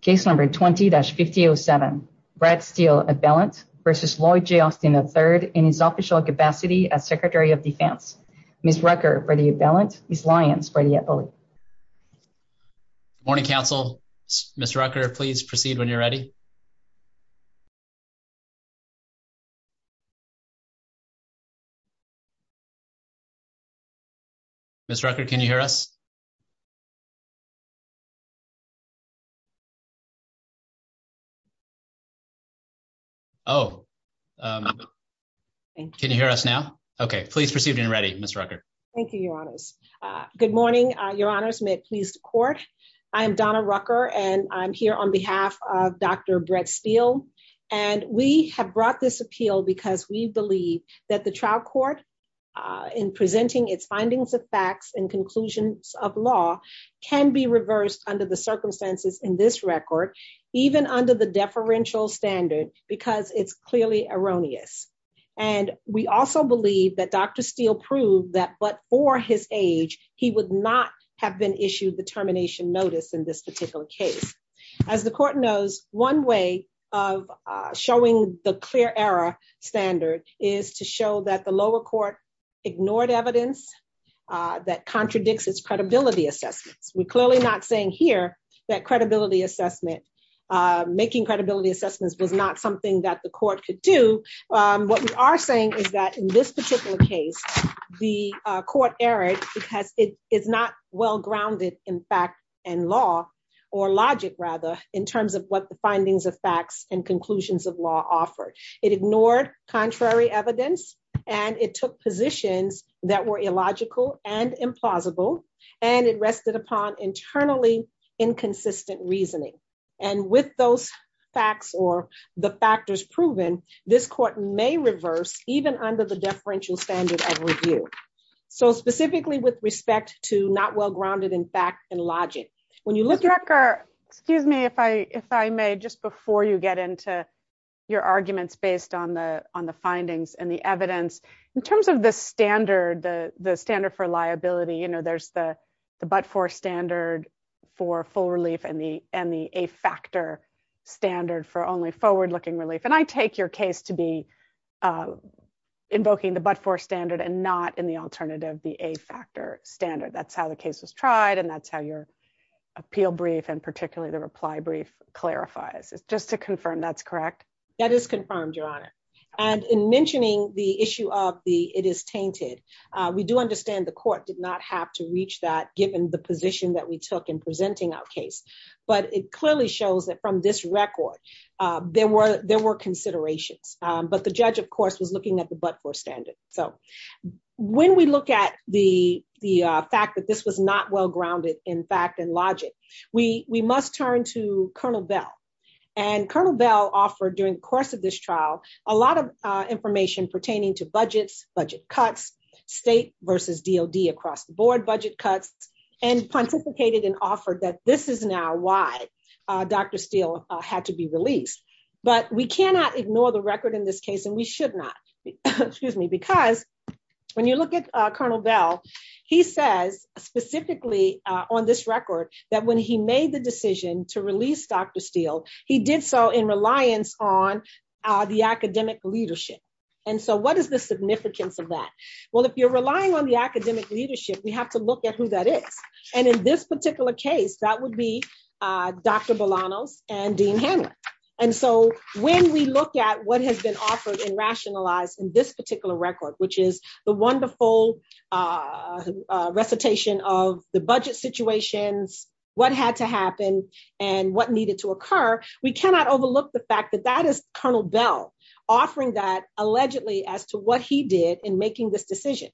Case number 20-5007. Brad Steele, abelant, versus Lloyd J. Austin III in his official capacity as Secretary of Defense. Ms. Rucker, ready abelant. Ms. Lyons, ready abelant. Morning, Council. Ms. Rucker, please proceed when you're ready. Ms. Rucker, can you hear us? Oh, can you hear us now? OK, please proceed when you're ready, Ms. Rucker. Thank you, Your Honors. Good morning, Your Honors. May it please the Court. I am Donna Rucker, and I'm here on behalf of Dr. Brad Steele. And we have brought this appeal because we believe that the trial court, in presenting its findings of facts and conclusions of law, can be reversed under the circumstances in this record, even under the deferential standard, because it's clearly erroneous. And we also believe that Dr. Steele proved that, but for his age, he would not have been issued the termination notice in this particular case. As the Court knows, one way of showing the clear error standard is to show that the lower court ignored evidence that contradicts its credibility assessments. We're clearly not saying here that making credibility assessments was not something that the Court could do. What we are saying is that, in this particular case, the Court erred because it is not well-grounded in fact and law, or logic, rather, in terms of what the findings of facts and conclusions of law offered. It ignored contrary evidence, and it took positions that were illogical and implausible, and it rested upon internally inconsistent reasoning. And with those facts, or the factors proven, this Court may reverse, even under the deferential standard of review. So specifically, with respect to not well-grounded in fact and logic, when you look at- Ms. Rucker, excuse me, if I may, just before you get into your arguments based on the findings and the evidence. In terms of the standard, the standard for liability, there's the but-for standard for full relief and the a-factor standard for only forward-looking relief. And I take your case to be invoking the but-for standard and not, in the alternative, the a-factor standard. That's how the case was tried, and that's how your appeal brief, and particularly the reply brief, clarifies. Just to confirm, that's correct? That is confirmed, Your Honor. And in mentioning the issue of the it is tainted, we do understand the Court did not have to reach that, given the position that we took in presenting our case. But it clearly shows that, from this record, there were considerations. But the judge, of course, was looking at the but-for standard. So when we look at the fact that this was not well-grounded in fact and logic, we must turn to Colonel Bell. And Colonel Bell offered, during the course of this trial, a lot of information pertaining to budgets, budget cuts, state versus DOD across the board budget cuts, and pontificated and offered that this is now why Dr. Steele had to be released. But we cannot ignore the record in this case, and we should not. Because when you look at Colonel Bell, he says, specifically on this record, that when he made the decision to release Dr. Steele, he did so in reliance on the academic leadership. And so what is the significance of that? Well, if you're relying on the academic leadership, we have to look at who that is. And in this particular case, that would be Dr. Bolanos and Dean Hanlon. And so when we look at what has been offered and rationalized in this particular record, which is the wonderful recitation of the budget situations, what had to happen, and what needed to occur, we cannot overlook the fact that that is Colonel Bell offering that, allegedly, as to what he did in making this decision.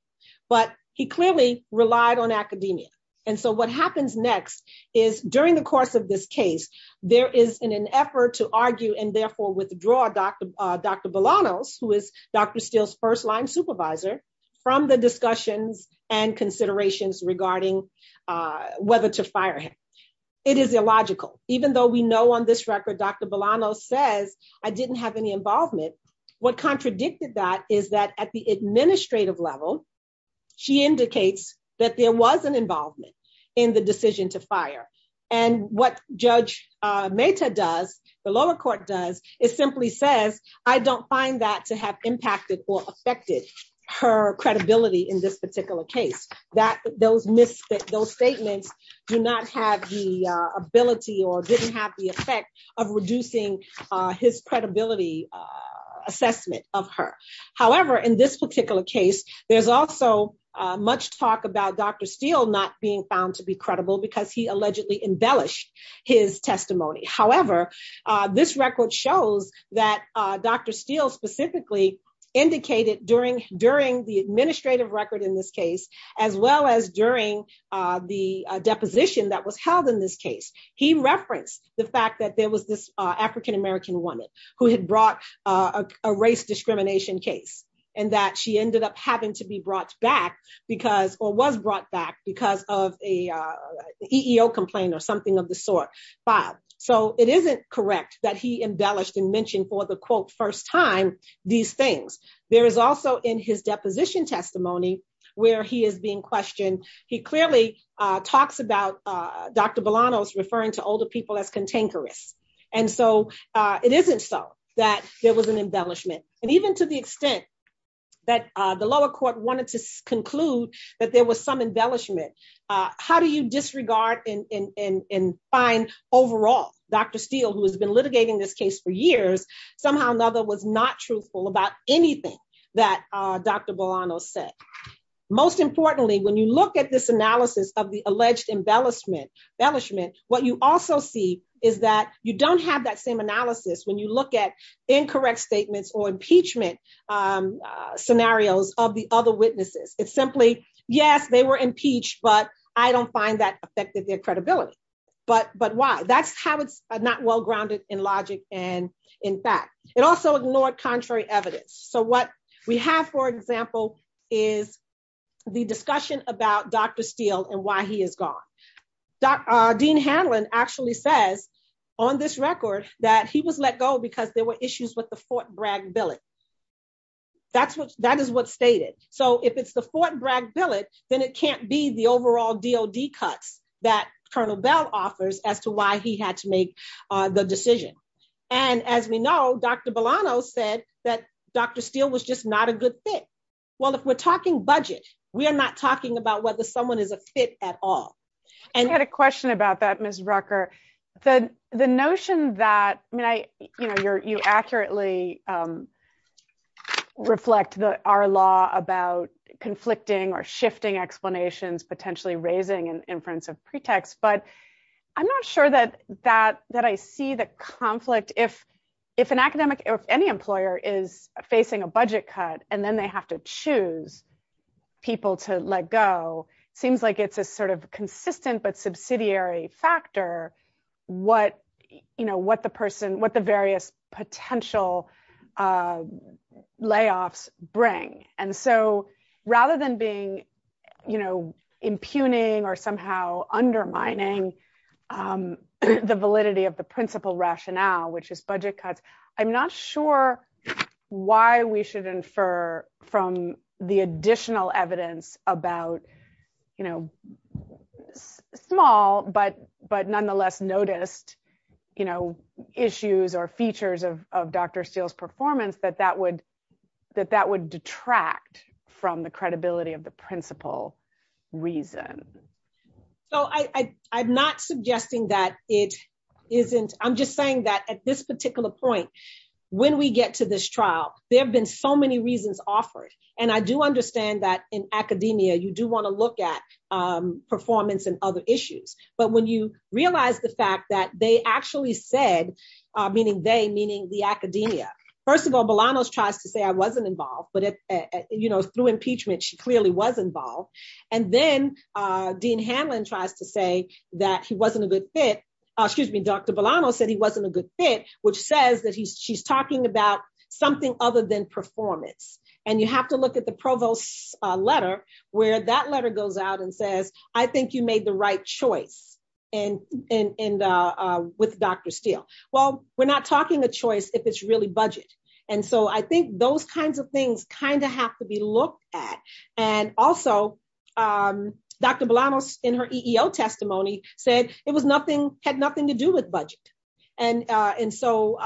But he clearly relied on academia. And so what happens next is, during the course of this case, there is an effort to argue and therefore withdraw Dr. Bolanos, who is Dr. Steele's first-line supervisor, from the discussions and considerations regarding whether to fire him. It is illogical. Even though we know on this record, Dr. Bolanos says, I didn't have any involvement, what contradicted that is that, at the administrative level, she indicates that there was an involvement in the decision to fire. And what Judge Mehta does, the lower court does, is simply says, I don't find that to have impacted or affected her credibility in this particular case. Those statements do not have the ability or didn't have the effect of reducing his credibility assessment of her. However, in this particular case, there's also much talk about Dr. Steele not being found to be credible because he allegedly embellished his testimony. However, this record shows that Dr. Steele specifically indicated during the administrative record in this case, as well as during the deposition that was held in this case. He referenced the fact that there was this African-American woman who had brought a race discrimination case and that she ended up having to be brought back because, or was brought back because of a EEO complaint or something of the sort filed. So it isn't correct that he embellished and mentioned for the quote, first time, these things. There is also in his deposition testimony where he is being questioned, he clearly talks about Dr. Bolanos referring to older people as cantankerous. And so it isn't so that there was an embellishment. And even to the extent that the lower court wanted to conclude that there was some embellishment, how do you disregard and find overall Dr. Steele, who has been litigating this case for years, somehow or another was not truthful about anything that Dr. Bolanos said. Most importantly, when you look at this analysis of the alleged embellishment, what you also see is that you don't have that same analysis when you look at incorrect statements or impeachment scenarios of the other witnesses. It's simply, yes, they were impeached, but I don't find that affected their credibility. But why? That's how it's not well grounded in logic and in fact. It also ignored contrary evidence. So what we have, for example, is the discussion about Dr. Steele and why he is gone. Dean Hanlon actually says on this record that he was let go because there were issues with the Fort Bragg billet. That is what's stated. So if it's the Fort Bragg billet, then it can't be the overall DOD cuts that Colonel Bell offers as to why he had to make the decision. And as we know, Dr. Bolanos said that Dr. Steele was just not a good fit. Well, if we're talking budget, we are not talking about whether someone is a fit at all. I had a question about that, Ms. Rucker. The notion that you accurately reflect our law about conflicting or shifting explanations, potentially raising an inference of pretext. But I'm not sure that I see the conflict. If an academic or any employer is facing a budget cut and then they have to choose people to let go, seems like it's a sort of consistent but subsidiary factor what the various potential layoffs bring. And so rather than being impugning or somehow undermining the validity of the principal rationale, which is budget cuts, I'm not sure why we should infer from the additional evidence about small but nonetheless noticed issues or features of Dr. Steele's performance that that would detract from the credibility of the principal reason. So I'm not suggesting that it isn't. I'm just saying that at this particular point, when we get to this trial, there have been so many reasons offered. And I do understand that in academia, you do want to look at performance and other issues. But when you realize the fact that they actually said, meaning they, meaning the academia, first of all, Bolanos tries to say I wasn't involved. But through impeachment, she clearly was involved. And then Dean Hanlon tries to say that he wasn't a good fit. Excuse me, Dr. Bolanos said he wasn't a good fit, which says that she's talking about something other than performance. And you have to look at the provost's letter, where that letter goes out and says, I think you made the right choice with Dr. Steele. Well, we're not talking a choice if it's really budget. And so I think those kinds of things kind of have to be looked at. And also, Dr. Bolanos, in her EEO testimony, said it had nothing to do with budget, and so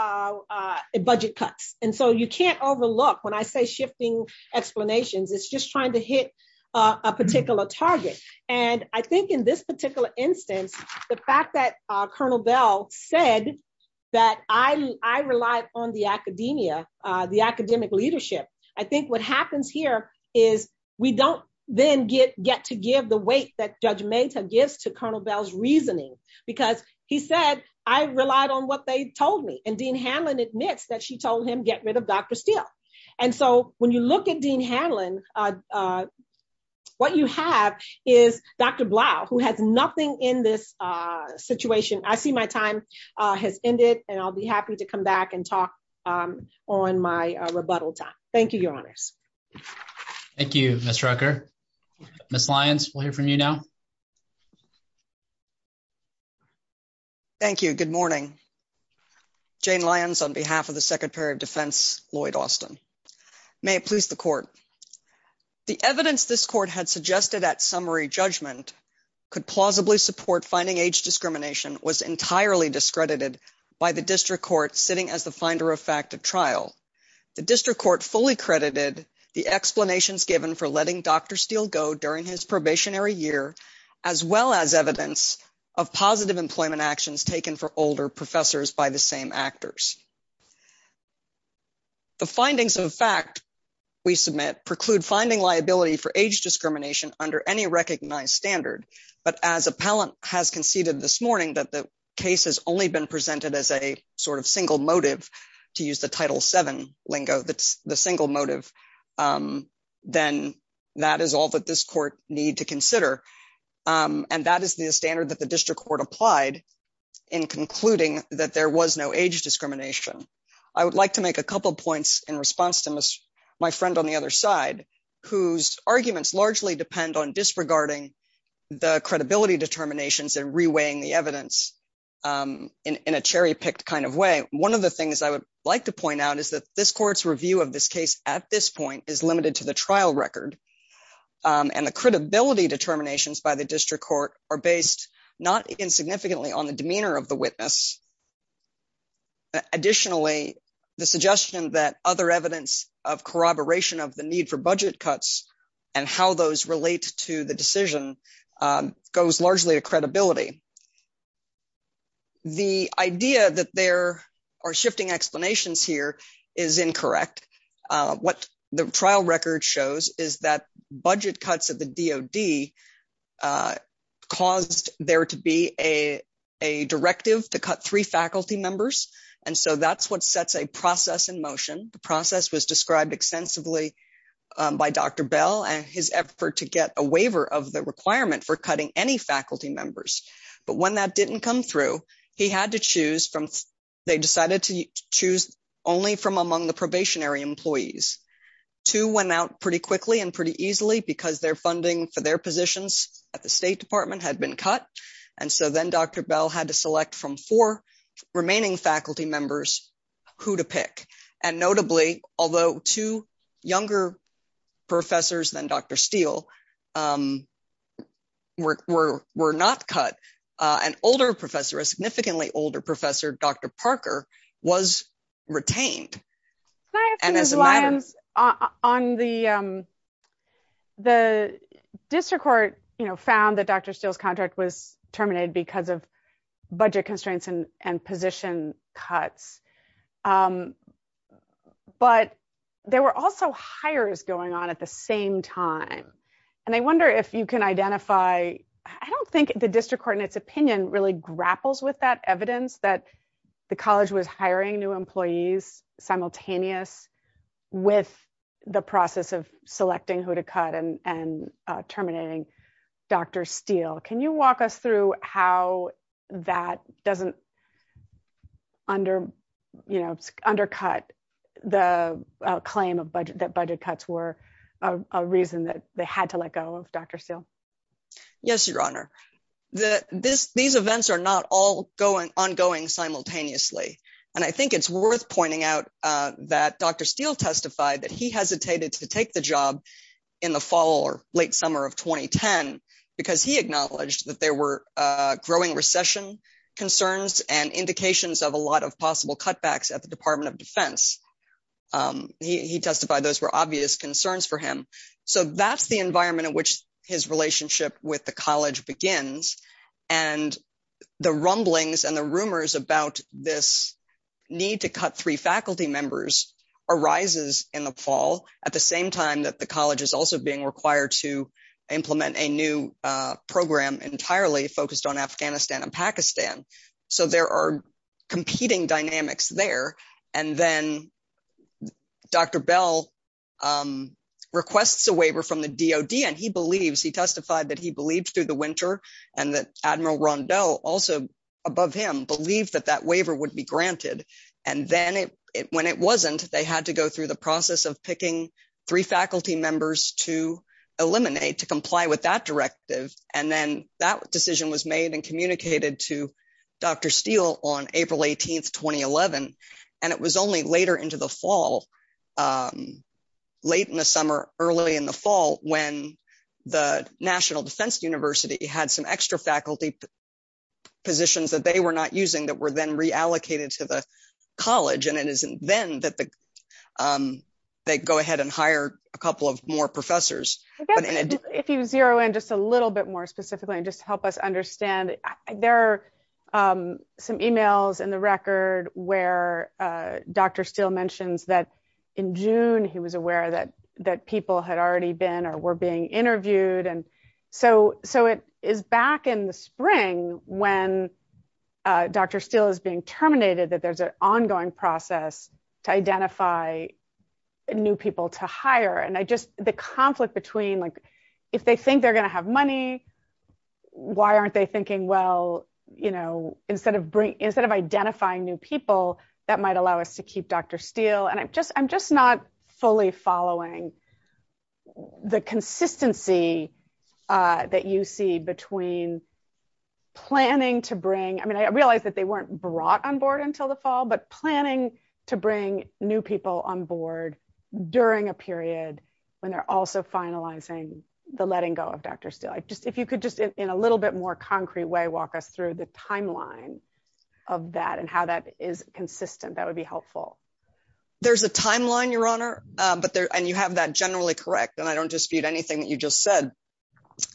budget cuts. And so you can't overlook, when I say shifting explanations, it's just trying to hit a particular target. And I think in this particular instance, the fact that Colonel Bell said that I relied on the academia, the academic leadership, I think what happens here is we don't then get to give the weight that Judge Mata gives to Colonel Bell's reasoning. Because he said, I relied on what they told me. And Dean Hanlon admits that she told him, get rid of Dr. Steele. And so when you look at Dean Hanlon, what you have is Dr. Blau, who has nothing in this situation. I see my time has ended, and I'll be happy to come back and talk on my rebuttal time. Thank you, Your Honors. Thank you, Ms. Rucker. Ms. Lyons, we'll hear from you now. Thank you. Good morning. Jane Lyons on behalf of the Secretary of Defense Lloyd Austin. May it please the court. The evidence this court had suggested at summary judgment could plausibly support finding age discrimination was entirely discredited by the district court sitting as the finder of fact at trial. The district court fully credited the explanations given for letting Dr. Steele go during his probationary year, as well as evidence of positive employment actions taken for older professors by the same actors. The findings of fact we submit preclude finding liability for age discrimination under any recognized standard. But as appellant has conceded this morning that the case has only been presented as a sort of single motive, to use the Title VII lingo, that's the single motive, then that is all that this court need to consider. And that is the standard that the district court applied in concluding that there was no age discrimination. I would like to make a couple of points in response to my friend on the other side, whose arguments largely depend on disregarding the credibility determinations and reweighing the evidence in a cherry-picked kind of way. One of the things I would like to point out is that this court's review of this case at this point is limited to the trial record. And the credibility determinations by the district court are based not insignificantly on the demeanor of the witness. Additionally, the suggestion that other evidence of corroboration of the need for budget cuts and how those relate to the decision goes largely to credibility. The idea that there are shifting explanations here is incorrect. What the trial record shows is that budget cuts of the DOD caused there to be a directive to cut three faculty members. And so that's what sets a process in motion. The process was described extensively by Dr. Bell and his effort to get a waiver of the requirement for cutting any faculty members. But when that didn't come through, he had to choose from — they decided to choose only from among the probationary employees. Two went out pretty quickly and pretty easily because their funding for their positions at the State Department had been cut. And so then Dr. Bell had to select from four remaining faculty members who to pick. And notably, although two younger professors than Dr. Steele were not cut, an older professor, a significantly older professor, Dr. Parker, was retained. Can I ask you, Ms. Lyons, on the — the district court, you know, found that Dr. Steele's contract was terminated because of budget constraints and position cuts. But there were also hires going on at the same time. And I wonder if you can identify — I don't think the district court, in its opinion, really grapples with that evidence that the college was hiring new employees simultaneous with the process of selecting who to cut and terminating Dr. Steele. Can you walk us through how that doesn't under — you know, undercut the claim of budget — that budget cuts were a reason that they had to let go of Dr. Steele? Yes, Your Honor. These events are not all ongoing simultaneously. And I think it's worth pointing out that Dr. Steele testified that he hesitated to take the job in the fall or late summer of 2010 because he acknowledged that there were growing recession concerns and indications of a lot of possible cutbacks at the Department of Defense. He testified those were obvious concerns for him. So that's the environment in which his relationship with the college begins. And the rumblings and the rumors about this need to cut three faculty members arises in the fall, at the same time that the college is also being required to implement a new program entirely focused on Afghanistan and Pakistan. So there are competing dynamics there. And then Dr. Bell requests a waiver from the DOD, and he believes — he testified that he believed, through the winter, and that Admiral Rondeau, also above him, believed that that waiver would be granted. And then when it wasn't, they had to go through the process of picking three faculty members to eliminate, to comply with that directive. And then that decision was made and communicated to Dr. Steele on April 18th, 2011. And it was only later into the fall, late in the summer, early in the fall, when the National Defense University had some extra faculty positions that they were not using that were then reallocated to the college. And it isn't then that they go ahead and hire a couple of more professors. If you zero in just a little bit more specifically, and just help us understand, there are some emails in the record where Dr. Steele mentions that, in June, he was aware that people had already been or were being interviewed. And so it is back in the spring when Dr. Steele is being terminated, that there's an ongoing process to identify new people to hire. And I just, the conflict between, if they think they're gonna have money, why aren't they thinking, well, instead of identifying new people, that might allow us to keep Dr. Steele. And I'm just not fully following the consistency that you see between planning to bring, I mean, I realized that they weren't brought on board until the fall, but planning to bring new people on board during a period when they're also finalizing the letting go of Dr. Steele. If you could just, in a little bit more concrete way, walk us through the timeline of that and how that is consistent, that would be helpful. There's a timeline, Your Honor, and you have that generally correct. And I don't dispute anything that you just said,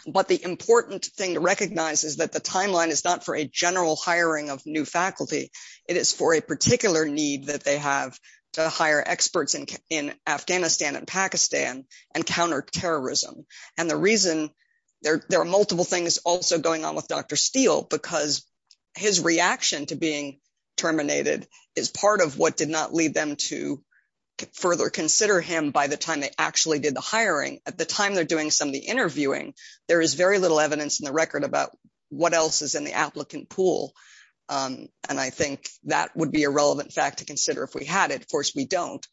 but the important thing to recognize is that the timeline is not for a general hiring of new faculty, it is for a particular need that they have to hire experts in Afghanistan and Pakistan and counter terrorism. And the reason there are multiple things also going on with Dr. Steele, because his reaction to being terminated is part of what did not lead them to further consider him by the time they actually did the hiring. At the time they're doing some of the interviewing, there is very little evidence in the record about what else is in the applicant pool. And I think that would be a relevant fact to consider if we had it, of course we don't.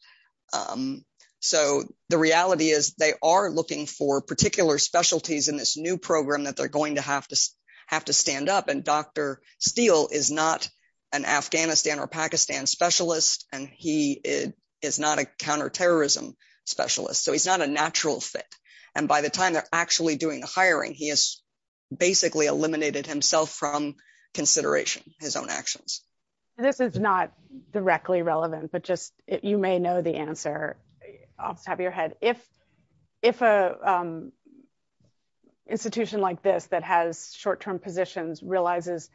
So the reality is they are looking for particular specialties in this new program that they're going to have to stand up. And Dr. Steele is not an Afghanistan or Pakistan specialist, and he is not a counter-terrorism specialist. So he's not a natural fit. And by the time they're actually doing the hiring, he has basically eliminated himself from consideration, his own actions. This is not directly relevant, but just you may know the answer off the top of your head. If a institution like this that has short-term positions realizes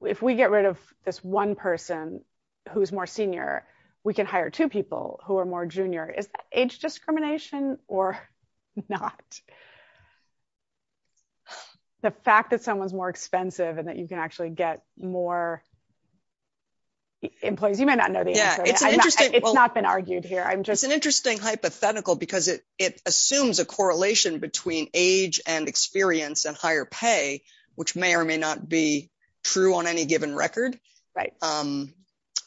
if we get rid of this one person who's more senior, we can hire two people who are more junior, is that age discrimination or not? The fact that someone's more expensive and that you can actually get more employees, you may not know the answer. It's not been argued here. I'm just- It's an interesting hypothetical because it assumes a correlation between age and experience and higher pay, which may or may not be true on any given record. Right.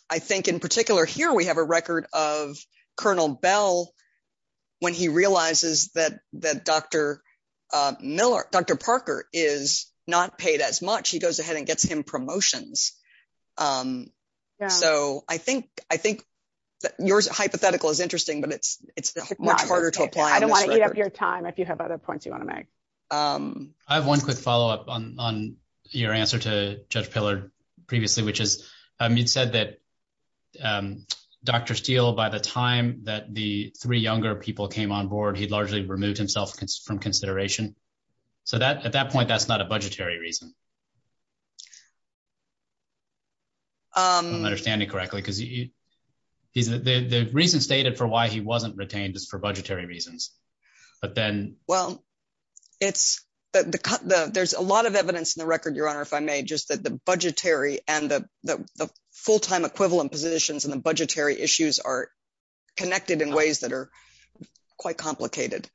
I think in particular here, we have a record of Colonel Bell when he realizes that Dr. Parker is not paid as much. He goes ahead and gets him promotions. So I think yours hypothetical is interesting, but it's much harder to apply on this record. I don't want to eat up your time if you have other points you want to make. I have one quick follow-up on your answer to Judge Pillar previously, which is you'd said that Dr. Steele, by the time that the three younger people came on board, he'd largely removed himself from consideration. So at that point, that's not a budgetary reason. If I'm understanding correctly, because the reason stated for why he wasn't retained is for budgetary reasons, but then- Well, there's a lot of evidence in the record, Your Honor, if I may, just that the budgetary and the full-time equivalent positions and the budgetary issues are connected in ways that are quite complicated.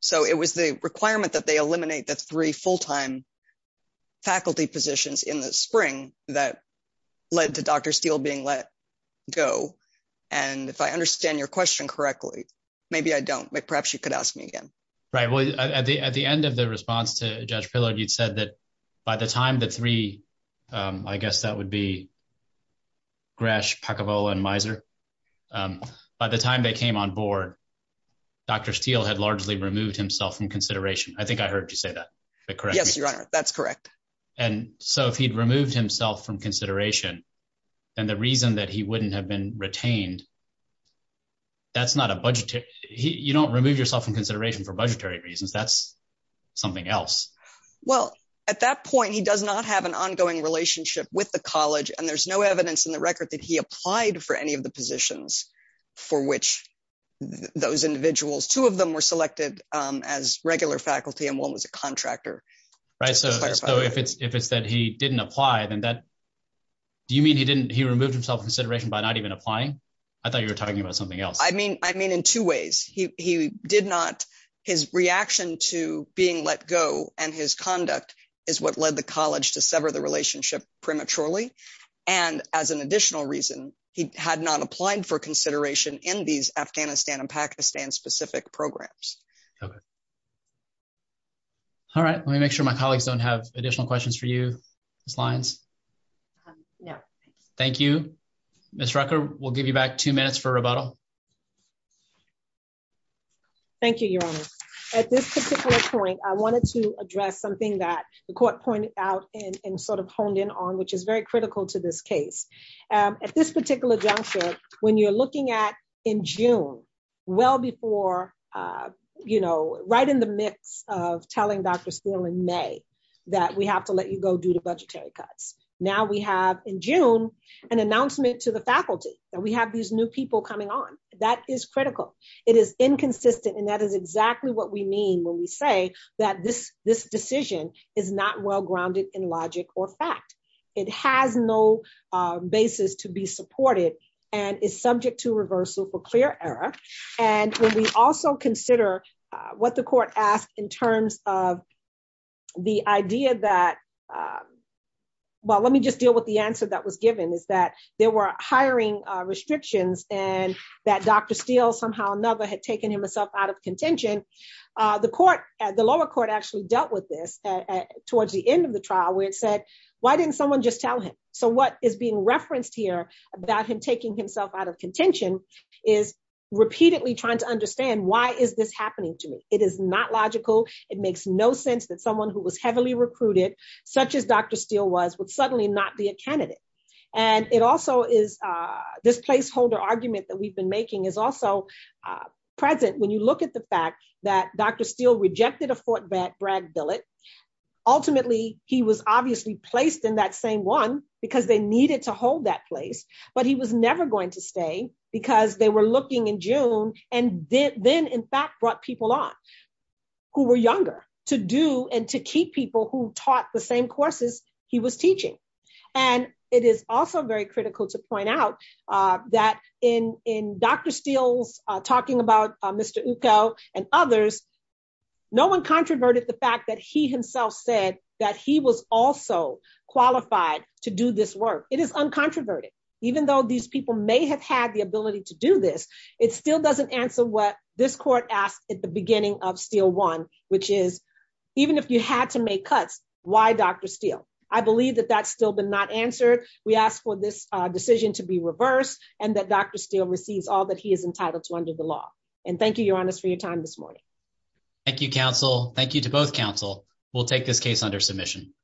So it was the requirement that they eliminate the three full-time faculty positions in the spring that led to Dr. Steele being let go. And if I understand your question correctly, maybe I don't, but perhaps you could ask me again. Right, well, at the end of the response to Judge Pillar, you'd said that by the time the three, I guess that would be Gresh, Pakavola, and Miser, by the time they came on board, Dr. Steele had largely removed himself from consideration. I think I heard you say that. Is that correct? Yes, Your Honor. That's correct. And so if he'd removed himself from consideration, then the reason that he wouldn't have been retained, that's not a budgetary... You don't remove yourself from consideration for budgetary reasons, that's something else. Well, at that point, he does not have an ongoing relationship with the college and there's no evidence in the record that he applied for any of the positions for which those individuals, two of them were selected as regular faculty and one was a contractor. Right, so if it's that he didn't apply, then that, do you mean he didn't, he removed himself from consideration by not even applying? I thought you were talking about something else. I mean, in two ways, he did not, his reaction to being let go and his conduct is what led the college to sever the relationship prematurely. And as an additional reason, he had not applied for consideration in these Afghanistan and Pakistan specific programs. All right, let me make sure my colleagues don't have additional questions for you, Ms. Lyons. No, thank you. Thank you. Ms. Rucker, we'll give you back two minutes for rebuttal. Thank you, Your Honor. At this particular point, I wanted to address something that the court pointed out and sort of honed in on, which is very critical to this case. At this particular juncture, when you're looking at in June, well before, you know, right in the midst of telling Dr. Steele in May that we have to let you go due to budgetary cuts. Now we have in June, an announcement to the faculty that we have these new people coming on. That is critical. It is inconsistent and that is exactly what we mean when we say that this decision is not well grounded in logic or fact. It has no basis to be supported and is subject to reversal for clear error. And when we also consider what the court asked in terms of the idea that well, let me just deal with the answer that was given is that there were hiring restrictions and that Dr. Steele somehow or another had taken himself out of contention. The court, the lower court actually dealt with this towards the end of the trial where it said, why didn't someone just tell him? So what is being referenced here about him taking himself out of contention is repeatedly trying to understand why is this happening to me? It is not logical. It makes no sense that someone who was heavily recruited such as Dr. Steele was would suddenly not be a candidate. And it also is this placeholder argument that we've been making is also present when you look at the fact that Dr. Steele rejected a Fort Bragg billet. Ultimately, he was obviously placed in that same one because they needed to hold that place but he was never going to stay because they were looking in June and then in fact brought people on who were younger to do and to keep people who taught the same courses he was teaching. And it is also very critical to point out that in Dr. Steele's talking about Mr. Uko and others, no one controverted the fact that he himself said that he was also qualified to do this work. It is uncontroverted. Even though these people may have had the ability to do this it still doesn't answer what this court asked at the beginning of Steele one which is even if you had to make cuts, why Dr. Steele? I believe that that's still been not answered. We ask for this decision to be reversed and that Dr. Steele receives all that he is entitled to under the law. And thank you, your honors for your time this morning. Thank you, counsel. Thank you to both counsel. We'll take this case under submission.